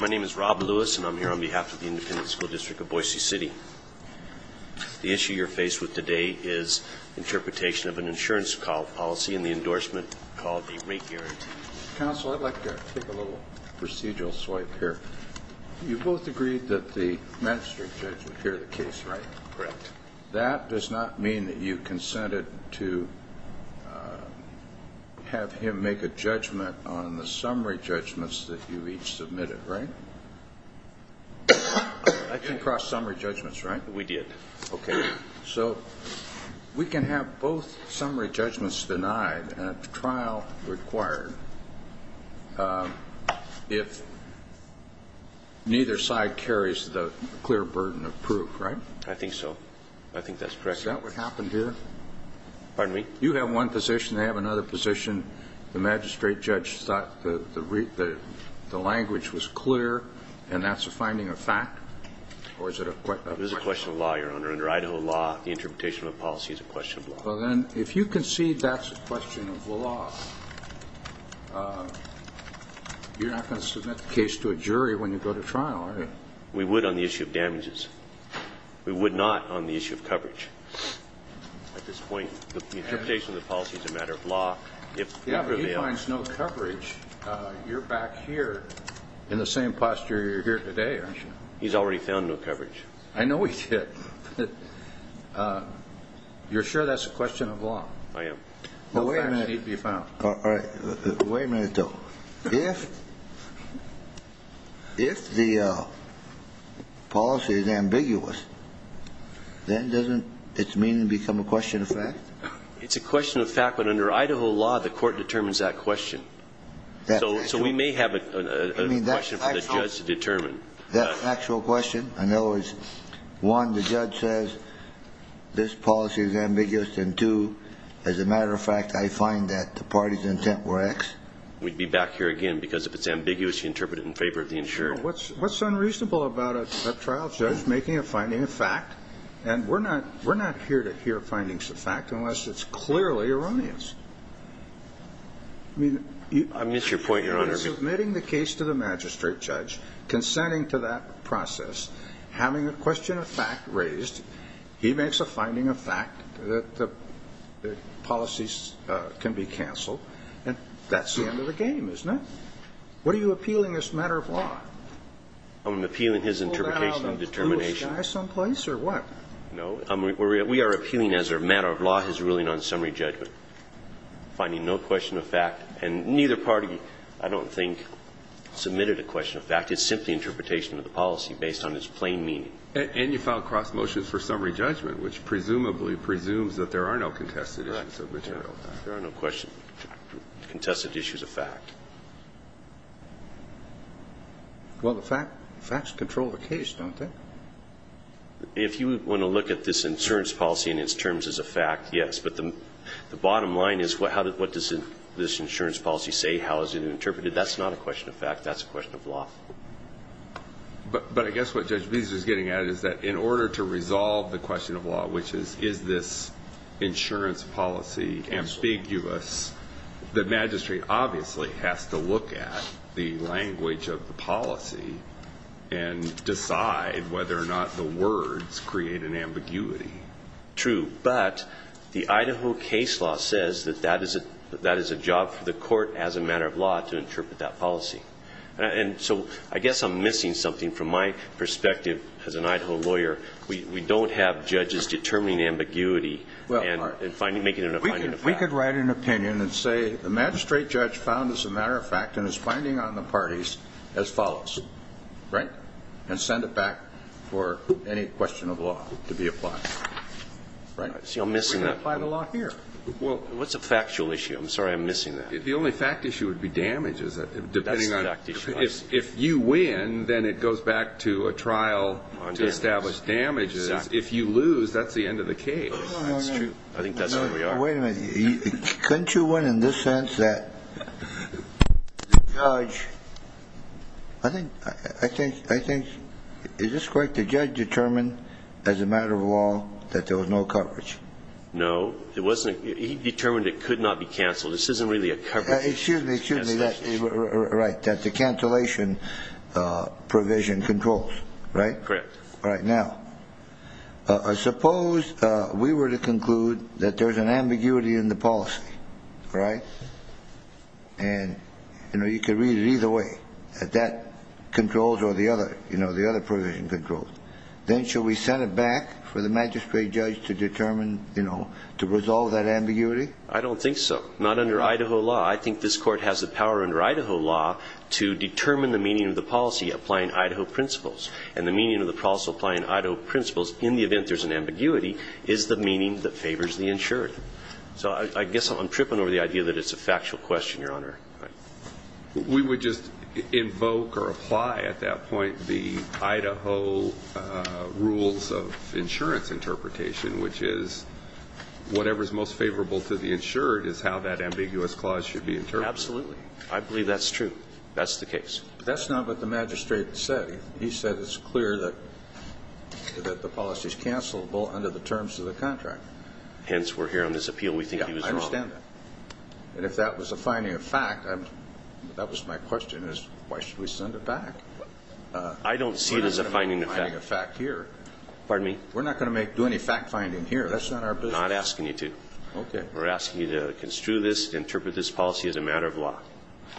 My name is Rob Lewis and I'm here on behalf of the Independent School District of Boise City. The issue you're faced with today is interpretation of an insurance policy and the endorsement called the rate guarantee. Counsel, I'd like to take a little procedural swipe here. You both agreed that the magistrate judge would hear the case, right? Correct. That does not mean that you consented to have him make a judgment on the summary judgments that you each submitted, right? I came across summary judgments, right? We did. Okay. So we can have both summary judgments denied and a trial required if neither side carries the clear burden of proof, right? I think so. I think that's correct. Is that what happened here? Pardon me? You have one position, they have another position. The magistrate judge thought the language was clear and that's a finding of fact or is it a question of law? It is a question of law, Your Honor. Under Idaho law, the interpretation of a policy is a question of law. Well then, if you concede that's a question of law, you're not going to submit the case to a jury when you go to trial, are you? We would on the issue of damages. We would not on the issue of coverage. At this point, the interpretation of the policy is a matter of law. Yeah, but if he finds no coverage, you're back here in the same posture you're in today, aren't you? He's already found no coverage. I know he did. You're sure that's a question of law? I am. Well, wait a minute. All right. Wait a minute, though. If the policy is ambiguous, then doesn't its meaning become a question of fact? It's a question of fact, but under Idaho law, the court determines that question. So we may have a question for the judge to determine. That's an actual question? In other words, one, the judge says this policy is ambiguous, and two, as a matter of fact, I find that the party's intent were X? We'd be back here again because if it's ambiguous, you interpret it in favor of the insured. Well, what's unreasonable about a trial judge making a finding of fact? And we're not here to hear findings of fact unless it's clearly erroneous. I miss your point, Your Honor. He's submitting the case to the magistrate judge, consenting to that process, having a question of fact raised. He makes a finding of fact that the policies can be canceled. And that's the end of the game, isn't it? What are you appealing as a matter of law? I'm appealing his interpretation of determination. Pulled out of the blue sky someplace or what? No. We are appealing as a matter of law his ruling on summary judgment, finding no question of fact. And neither party, I don't think, submitted a question of fact. It's simply interpretation of the policy based on its plain meaning. And you filed cross motions for summary judgment, which presumably presumes that there are no contested issues of material fact. There are no contested issues of fact. Well, the facts control the case, don't they? If you want to look at this insurance policy in its terms as a fact, yes. But the bottom line is what does this insurance policy say? How is it interpreted? That's not a question of fact. That's a question of law. But I guess what Judge Bezos is getting at is that in order to resolve the question of law, which is, is this insurance policy ambiguous, the magistrate obviously has to look at the language of the policy and decide whether or not the words create an ambiguity. True. But the Idaho case law says that that is a job for the court as a matter of law to interpret that policy. And so I guess I'm missing something from my perspective as an Idaho lawyer. We don't have judges determining ambiguity and making it a finding of fact. We could write an opinion and say the magistrate judge found this a matter of fact and is finding on the parties as follows. Right? And send it back for any question of law to be applied. Right? See, I'm missing that. We can apply the law here. Well, what's a factual issue? I'm sorry. I'm missing that. The only fact issue would be damage, depending on if you win, then it goes back to a trial to establish damage. If you lose, that's the end of the case. That's true. I think that's where we are. Wait a minute. Couldn't you win in this sense that the judge, I think, is this correct, the judge determined as a matter of law that there was no coverage? No. It wasn't. He determined it could not be canceled. This isn't really a coverage. Excuse me. Excuse me. Right. That the cancellation provision controls. Right? Correct. All right. Now, suppose we were to conclude that there's an ambiguity in the policy. Right? And, you know, you could read it either way, that that controls or, you know, the other provision controls. Then should we send it back for the magistrate judge to determine, you know, to resolve that ambiguity? I don't think so. Not under Idaho law. I think this court has the power under Idaho law to determine the meaning of the policy applying Idaho principles. And the meaning of the policy applying Idaho principles in the event there's an ambiguity is the meaning that favors the insured. So I guess I'm tripping over the idea that it's a factual question, Your Honor. We would just invoke or apply at that point the Idaho rules of insurance interpretation, which is whatever is most favorable to the insured is how that should be interpreted. Absolutely. I believe that's true. That's the case. That's not what the magistrate said. He said it's clear that the policy is cancelable under the terms of the contract. Hence, we're here on this appeal. We think he was wrong. Yeah, I understand that. And if that was a finding of fact, that was my question, is why should we send it back? I don't see it as a finding of fact. We're not going to make a finding of fact here. Pardon me? We're not going to do any fact finding here. That's not our business. We're not asking you to. Okay. We're asking you to construe this, interpret this policy as a matter of law.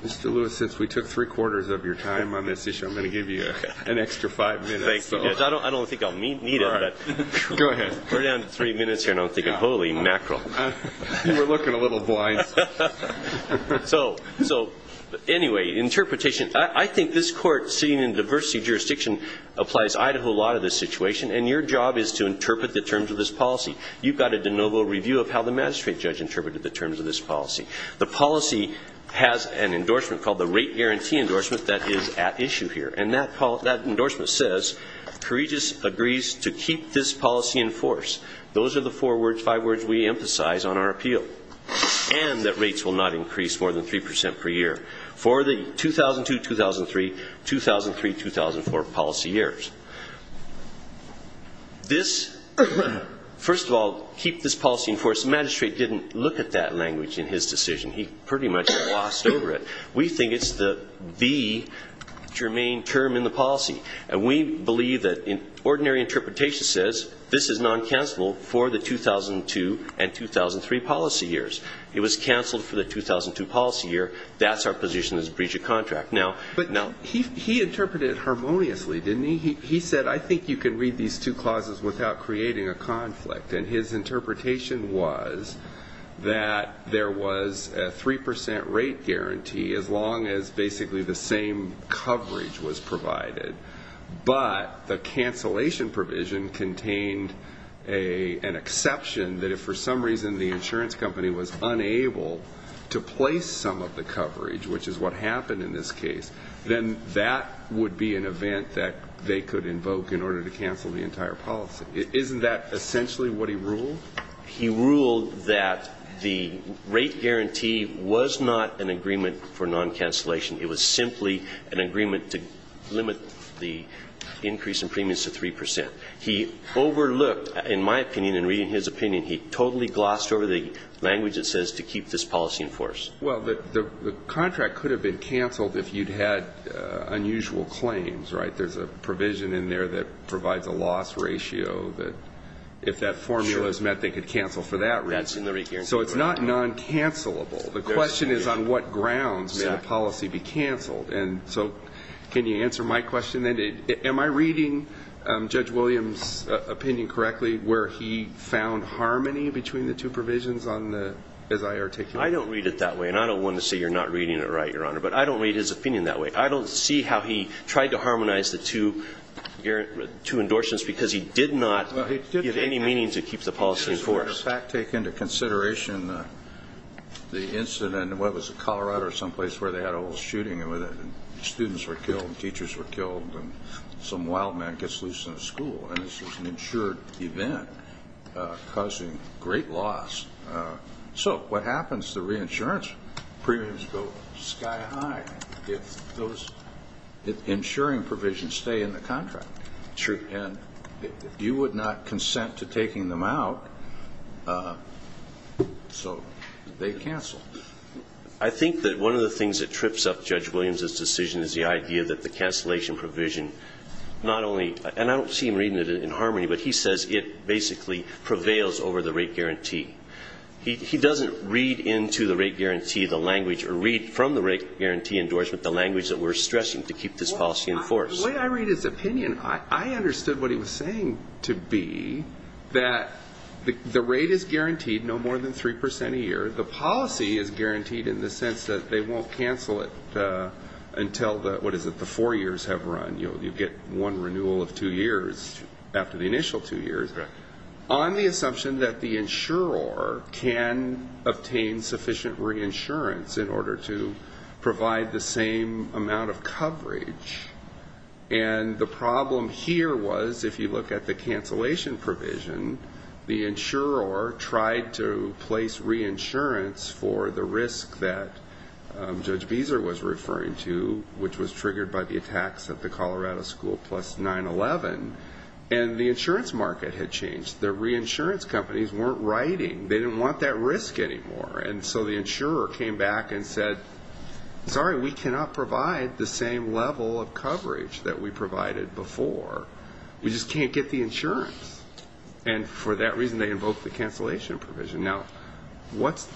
Mr. Lewis, since we took three quarters of your time on this issue, I'm going to give you an extra five minutes. Thank you. I don't think I'll need it. Go ahead. We're down to three minutes here, and I'm thinking, holy mackerel. You were looking a little blind. So anyway, interpretation. I think this court, seeing in diversity jurisdiction, applies Idaho law to this situation, and your job is to interpret the terms of this policy. You've got a de novo review of how the magistrate judge interpreted the terms of this policy. The policy has an endorsement called the rate guarantee endorsement that is at issue here, and that endorsement says, Courageous agrees to keep this policy in force. Those are the four words, five words we emphasize on our appeal, and that rates will not increase more than 3% per year for the 2002-2003, 2003-2004 policy years. First of all, keep this policy in force. The magistrate didn't look at that language in his decision. He pretty much glossed over it. We think it's the main term in the policy, and we believe that ordinary interpretation says this is non-cancelable for the 2002 and 2003 policy years. It was canceled for the 2002 policy year. That's our position as a breach of contract. But he interpreted it harmoniously, didn't he? He said, I think you can read these two clauses without creating a conflict, and his interpretation was that there was a 3% rate guarantee as long as basically the same coverage was provided, but the cancellation provision contained an exception that if for some reason the insurance company was unable to place some of the coverage, which is what happened in this case, then that would be an event that they could invoke in order to cancel the entire policy. Isn't that essentially what he ruled? He ruled that the rate guarantee was not an agreement for non-cancellation. It was simply an agreement to limit the increase in premiums to 3%. He overlooked, in my opinion and reading his opinion, he totally glossed over the language that says to keep this policy in force. Well, the contract could have been canceled if you'd had unusual claims, right? There's a provision in there that provides a loss ratio that if that formula is met, they could cancel for that reason. So it's not non-cancellable. The question is on what grounds should the policy be canceled? And so can you answer my question then? Am I reading Judge Williams' opinion correctly where he found harmony between the two provisions as I articulate it? I don't read it that way. And I don't want to say you're not reading it right, Your Honor. But I don't read his opinion that way. I don't see how he tried to harmonize the two endorsements because he did not give any meaning to keep the policy in force. Well, he did take into consideration the incident in, what was it, Colorado or someplace where they had a little shooting and students were killed and teachers were killed and some wild man gets loose in a school. And this was an insured event causing great loss. So what happens to reinsurance premiums go sky high if those insuring provisions stay in the contract? True. And you would not consent to taking them out, so they cancel. I think that one of the things that trips up Judge Williams' decision is the idea that the cancellation provision not only, and I don't see him reading it in harmony, but he says it basically prevails over the rate guarantee. He doesn't read into the rate guarantee the language or read from the rate guarantee endorsement the language that we're stressing to keep this policy in force. The way I read his opinion, I understood what he was saying to be that the rate is guaranteed no more than 3% a year. The policy is guaranteed in the sense that they won't cancel it until the, what is it, the four years have run. You get one renewal of two years after the initial two years. On the assumption that the insurer can obtain sufficient reinsurance in order to provide the same amount of coverage. And the problem here was if you look at the cancellation provision, the insurer tried to place reinsurance for the risk that Judge Beezer was referring to, which was triggered by the attacks at the Colorado School Plus 9-11, and the insurance market had changed. The reinsurance companies weren't writing. They didn't want that risk anymore. And so the insurer came back and said, sorry, we cannot provide the same level of coverage that we provided before. We just can't get the insurance. And for that reason, they invoked the cancellation provision. Now, what's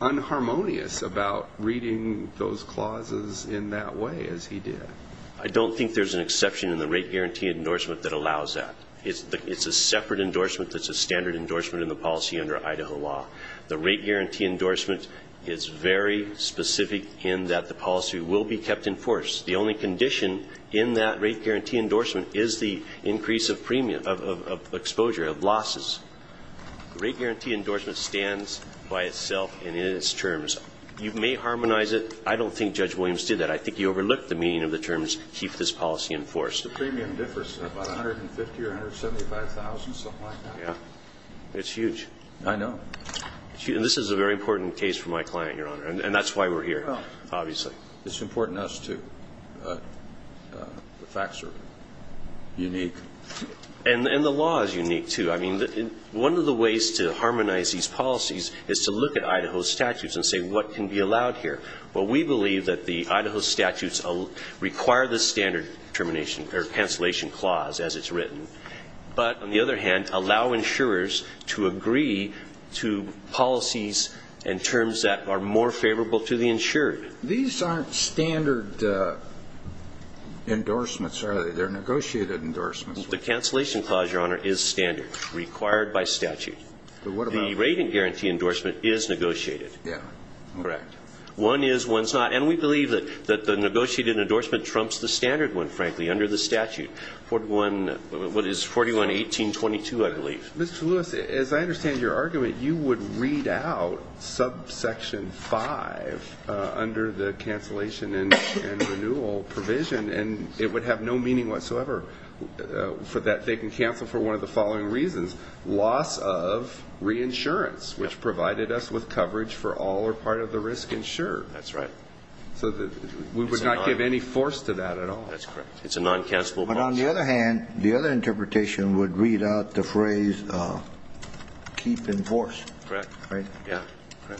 unharmonious about reading those clauses in that way as he did? I don't think there's an exception in the rate guarantee endorsement that allows that. It's a separate endorsement that's a standard endorsement in the policy under Idaho law. The rate guarantee endorsement is very specific in that the policy will be kept in force. The only condition in that rate guarantee endorsement is the increase of premium, of exposure, of losses. The rate guarantee endorsement stands by itself and in its terms. You may harmonize it. I don't think Judge Williams did that. I think you overlooked the meaning of the terms, keep this policy in force. The premium differs. About $150,000 or $175,000, something like that. Yeah. It's huge. I know. And this is a very important case for my client, Your Honor. And that's why we're here, obviously. It's important to us, too. The facts are unique. And the law is unique, too. I mean, one of the ways to harmonize these policies is to look at Idaho statutes and say, what can be allowed here? Well, we believe that the Idaho statutes require the standard termination or cancellation clause, as it's written. But on the other hand, allow insurers to agree to policies and terms that are more favorable to the insured. These aren't standard endorsements, are they? They're negotiated endorsements. The cancellation clause, Your Honor, is standard, required by statute. The rate guarantee endorsement is negotiated. Yeah. Correct. One is, one's not. And we believe that the negotiated endorsement trumps the standard one, frankly, under the statute. What is 41-1822, I believe. Mr. Lewis, as I understand your argument, you would read out subsection 5 under the cancellation and renewal provision, and it would have no meaning whatsoever for that they can cancel for one of the following reasons. Loss of reinsurance, which provided us with coverage for all or part of the risk insured. That's right. So we would not give any force to that at all. That's correct. It's a non-cancellable clause. But on the other hand, the other interpretation would read out the phrase keep in force. Correct. Right? Yeah.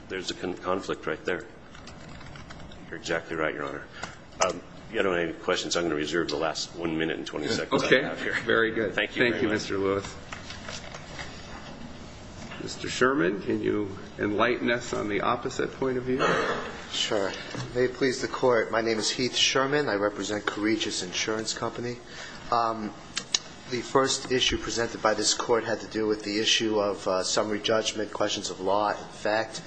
There's a conflict right there. You're exactly right, Your Honor. If you don't have any questions, I'm going to reserve the last one minute and 20 seconds I have here. Okay. Very good. Thank you very much. Thank you, Mr. Lewis. Mr. Sherman, can you enlighten us on the opposite point of view? Sure. May it please the Court, my name is Heath Sherman. I represent Courageous Insurance Company. The first issue presented by this Court had to do with the issue of summary judgment, questions of law and fact.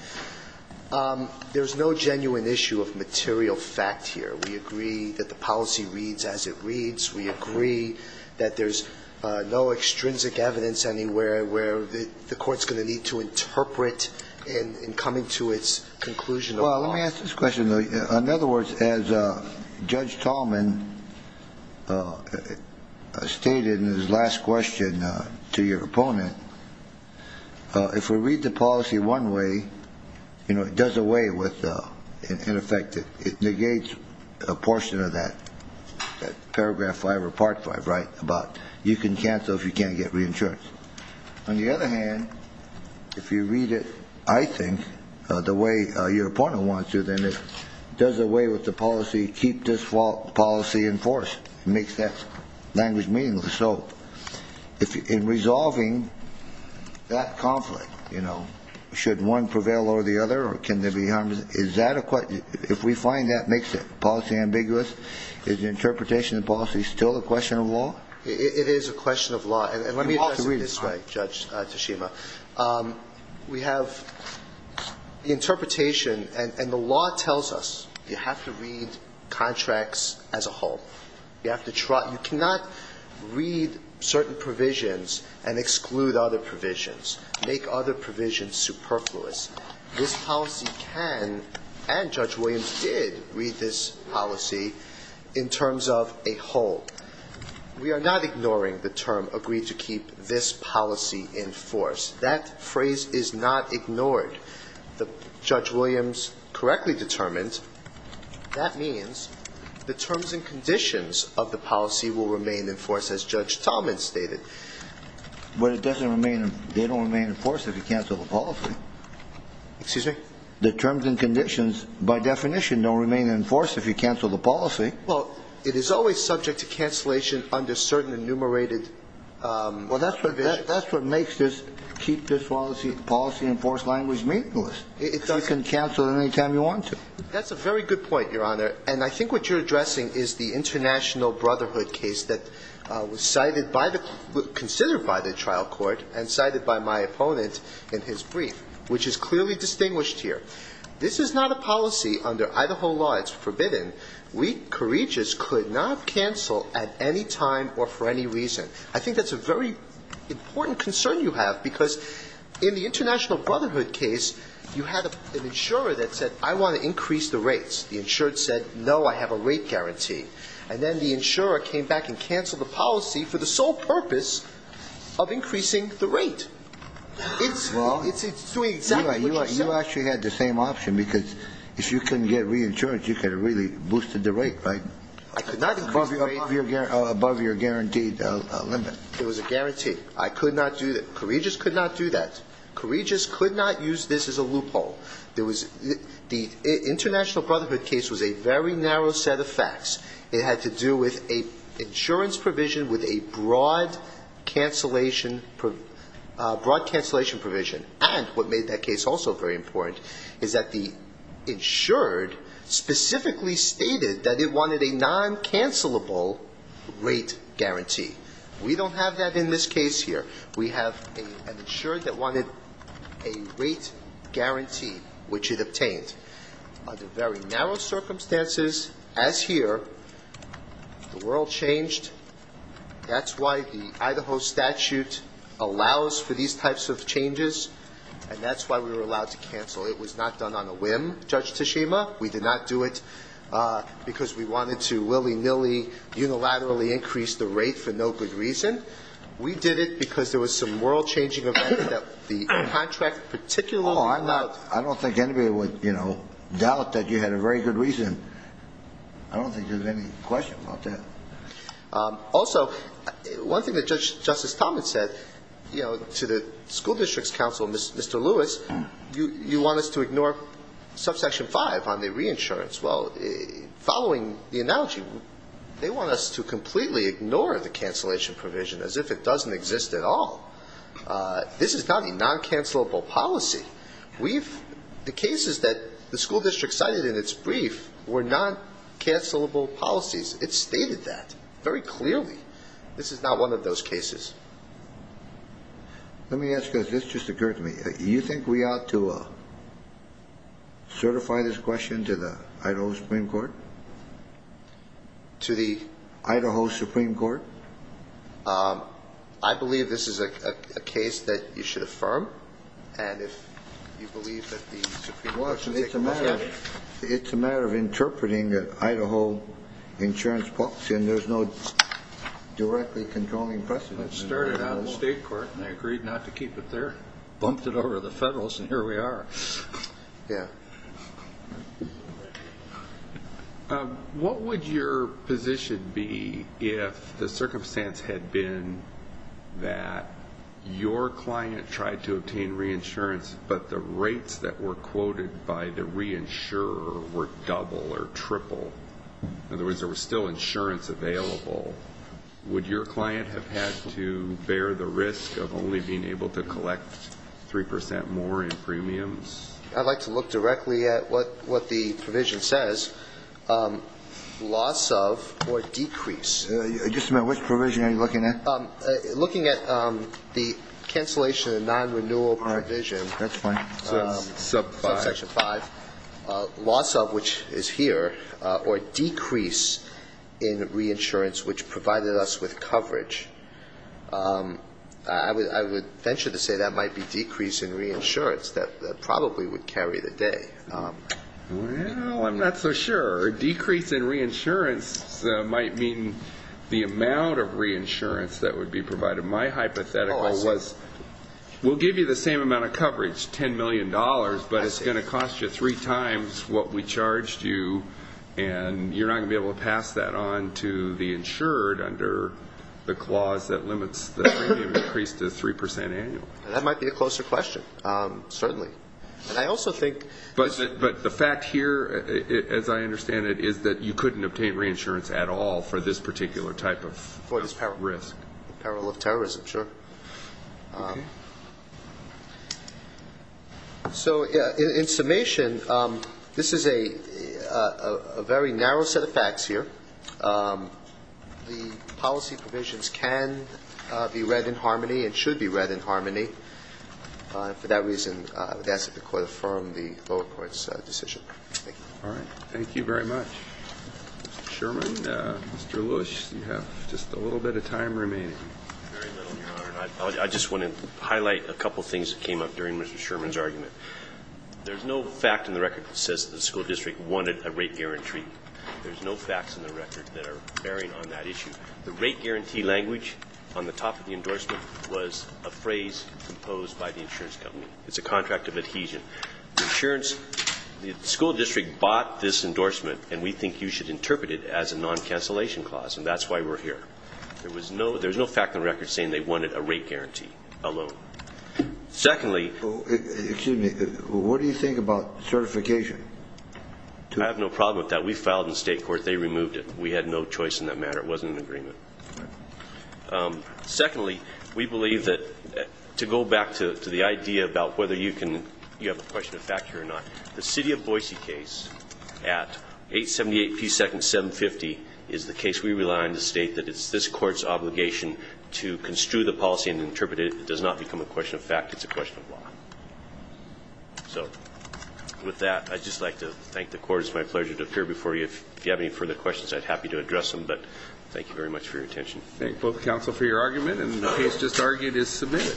There's no genuine issue of material fact here. We agree that the policy reads as it reads. We agree that there's no extrinsic evidence anywhere where the Court's going to need to interpret in coming to its conclusion. Well, let me ask this question. In other words, as Judge Tallman stated in his last question to your opponent, if we read the policy one way, you know, it does away with, in effect, it negates a portion of that, that Paragraph 5 or Part 5, right, about you can cancel if you can't get reinsurance. On the other hand, if you read it, I think, the way your opponent wants you, then it does away with the policy, keep this policy in force. It makes that language meaningless. So in resolving that conflict, you know, should one prevail over the other or can there be harm? Is that a question? If we find that makes the policy ambiguous, is the interpretation of the policy still a question of law? It is a question of law. And let me address it this way, Judge Tashima. We have the interpretation, and the law tells us you have to read contracts as a whole. You have to try. You cannot read certain provisions and exclude other provisions, make other provisions superfluous. This policy can, and Judge Williams did, read this policy in terms of a whole. We are not ignoring the term, agree to keep this policy in force. That phrase is not ignored. Judge Williams correctly determined that means the terms and conditions of the policy will remain in force, as Judge Talmadge stated. But they don't remain in force if you cancel the policy. Excuse me? The terms and conditions, by definition, don't remain in force if you cancel the policy. Well, it is always subject to cancellation under certain enumerated provisions. Well, that's what makes this keep this policy in force language meaningless. You can cancel it any time you want to. That's a very good point, Your Honor. And I think what you're addressing is the International Brotherhood case that was considered by the trial court and cited by my opponent in his brief, which is clearly distinguished here. This is not a policy under Idaho law. It's forbidden. We courageous could not cancel at any time or for any reason. I think that's a very important concern you have, because in the International Brotherhood case, you had an insurer that said, I want to increase the rates. The insurer said, no, I have a rate guarantee. And then the insurer came back and canceled the policy for the sole purpose of increasing the rate. It's doing exactly what you said. You actually had the same option, because if you couldn't get reinsurance, you could have really boosted the rate, right? I could not increase the rate. Above your guaranteed limit. It was a guarantee. I could not do that. Courageous could not do that. Courageous could not use this as a loophole. The International Brotherhood case was a very narrow set of facts. It had to do with an insurance provision with a broad cancellation provision. And what made that case also very important is that the insured specifically stated that it wanted a non-cancellable rate guarantee. We don't have that in this case here. We have an insured that wanted a rate guarantee, which it obtained. Under very narrow circumstances, as here, the world changed. That's why the Idaho statute allows for these types of changes. And that's why we were allowed to cancel. It was not done on a whim, Judge Tashima. We did not do it because we wanted to willy-nilly unilaterally increase the rate for no good reason. We did it because there was some world-changing events that the contract particularly allowed. I don't think anybody would doubt that you had a very good reason. I don't think there's any question about that. Also, one thing that Justice Thomas said to the school district's counsel, Mr. Lewis, you want us to ignore subsection 5 on the reinsurance. Well, following the analogy, they want us to completely ignore the cancellation provision as if it doesn't exist at all. This is not a non-cancellable policy. The cases that the school district cited in its brief were non-cancellable policies. It stated that very clearly. This is not one of those cases. Let me ask you, as this just occurred to me, do you think we ought to certify this question to the Idaho Supreme Court? To the? Idaho Supreme Court. I believe this is a case that you should affirm. It's a matter of interpreting the Idaho insurance policy, and there's no directly controlling precedent. It started out in the state court, and they agreed not to keep it there. Bumped it over to the federalists, and here we are. Yeah. What would your position be if the circumstance had been that your client tried to obtain reinsurance, but the rates that were quoted by the reinsurer were double or triple? In other words, there was still insurance available. Would your client have had to bear the risk of only being able to collect 3% more in premiums? I'd like to look directly at what the provision says, loss of or decrease. Just a minute. Which provision are you looking at? Looking at the cancellation of non-renewal provision. All right. That's fine. Sub 5. Loss of, which is here, or decrease in reinsurance, which provided us with coverage. I would venture to say that might be decrease in reinsurance. That probably would carry the day. Well, I'm not so sure. Decrease in reinsurance might mean the amount of reinsurance that would be provided. My hypothetical was we'll give you the same amount of coverage, $10 million, but it's going to cost you three times what we charged you, and you're not going to be able to pass that on to the insured under the clause that limits the premium increase to 3% annually. That might be a closer question, certainly. But the fact here, as I understand it, is that you couldn't obtain reinsurance at all for this particular type of risk. For this peril of terrorism, sure. So in summation, this is a very narrow set of facts here. The policy provisions can be read in harmony and should be read in harmony. For that reason, I would ask that the Court affirm the lower court's decision. Thank you. All right. Thank you very much. Mr. Sherman, Mr. Lewis, you have just a little bit of time remaining. Very little, Your Honor. I just want to highlight a couple things that came up during Mr. Sherman's argument. There's no fact in the record that says the school district wanted a rate guarantee. There's no facts in the record that are bearing on that issue. The rate guarantee language on the top of the endorsement was a phrase composed by the insurance company. It's a contract of adhesion. The school district bought this endorsement, and we think you should interpret it as a non-cancellation clause, and that's why we're here. There's no fact in the record saying they wanted a rate guarantee alone. Secondly... Excuse me. What do you think about certification? I have no problem with that. We filed in the state court. They removed it. We had no choice in that matter. It wasn't an agreement. Secondly, we believe that, to go back to the idea about whether you have a question of fact here or not, the City of Boise case at 878 P. 2nd, 750 is the case we rely on to state that it's this court's obligation to construe the policy and interpret it. It does not become a question of fact. It's a question of law. So with that, I'd just like to thank the court. It's my pleasure to appear before you. If you have any further questions, I'd be happy to address them, but thank you very much for your attention. Thank both counsel for your argument, and the case just argued is submitted.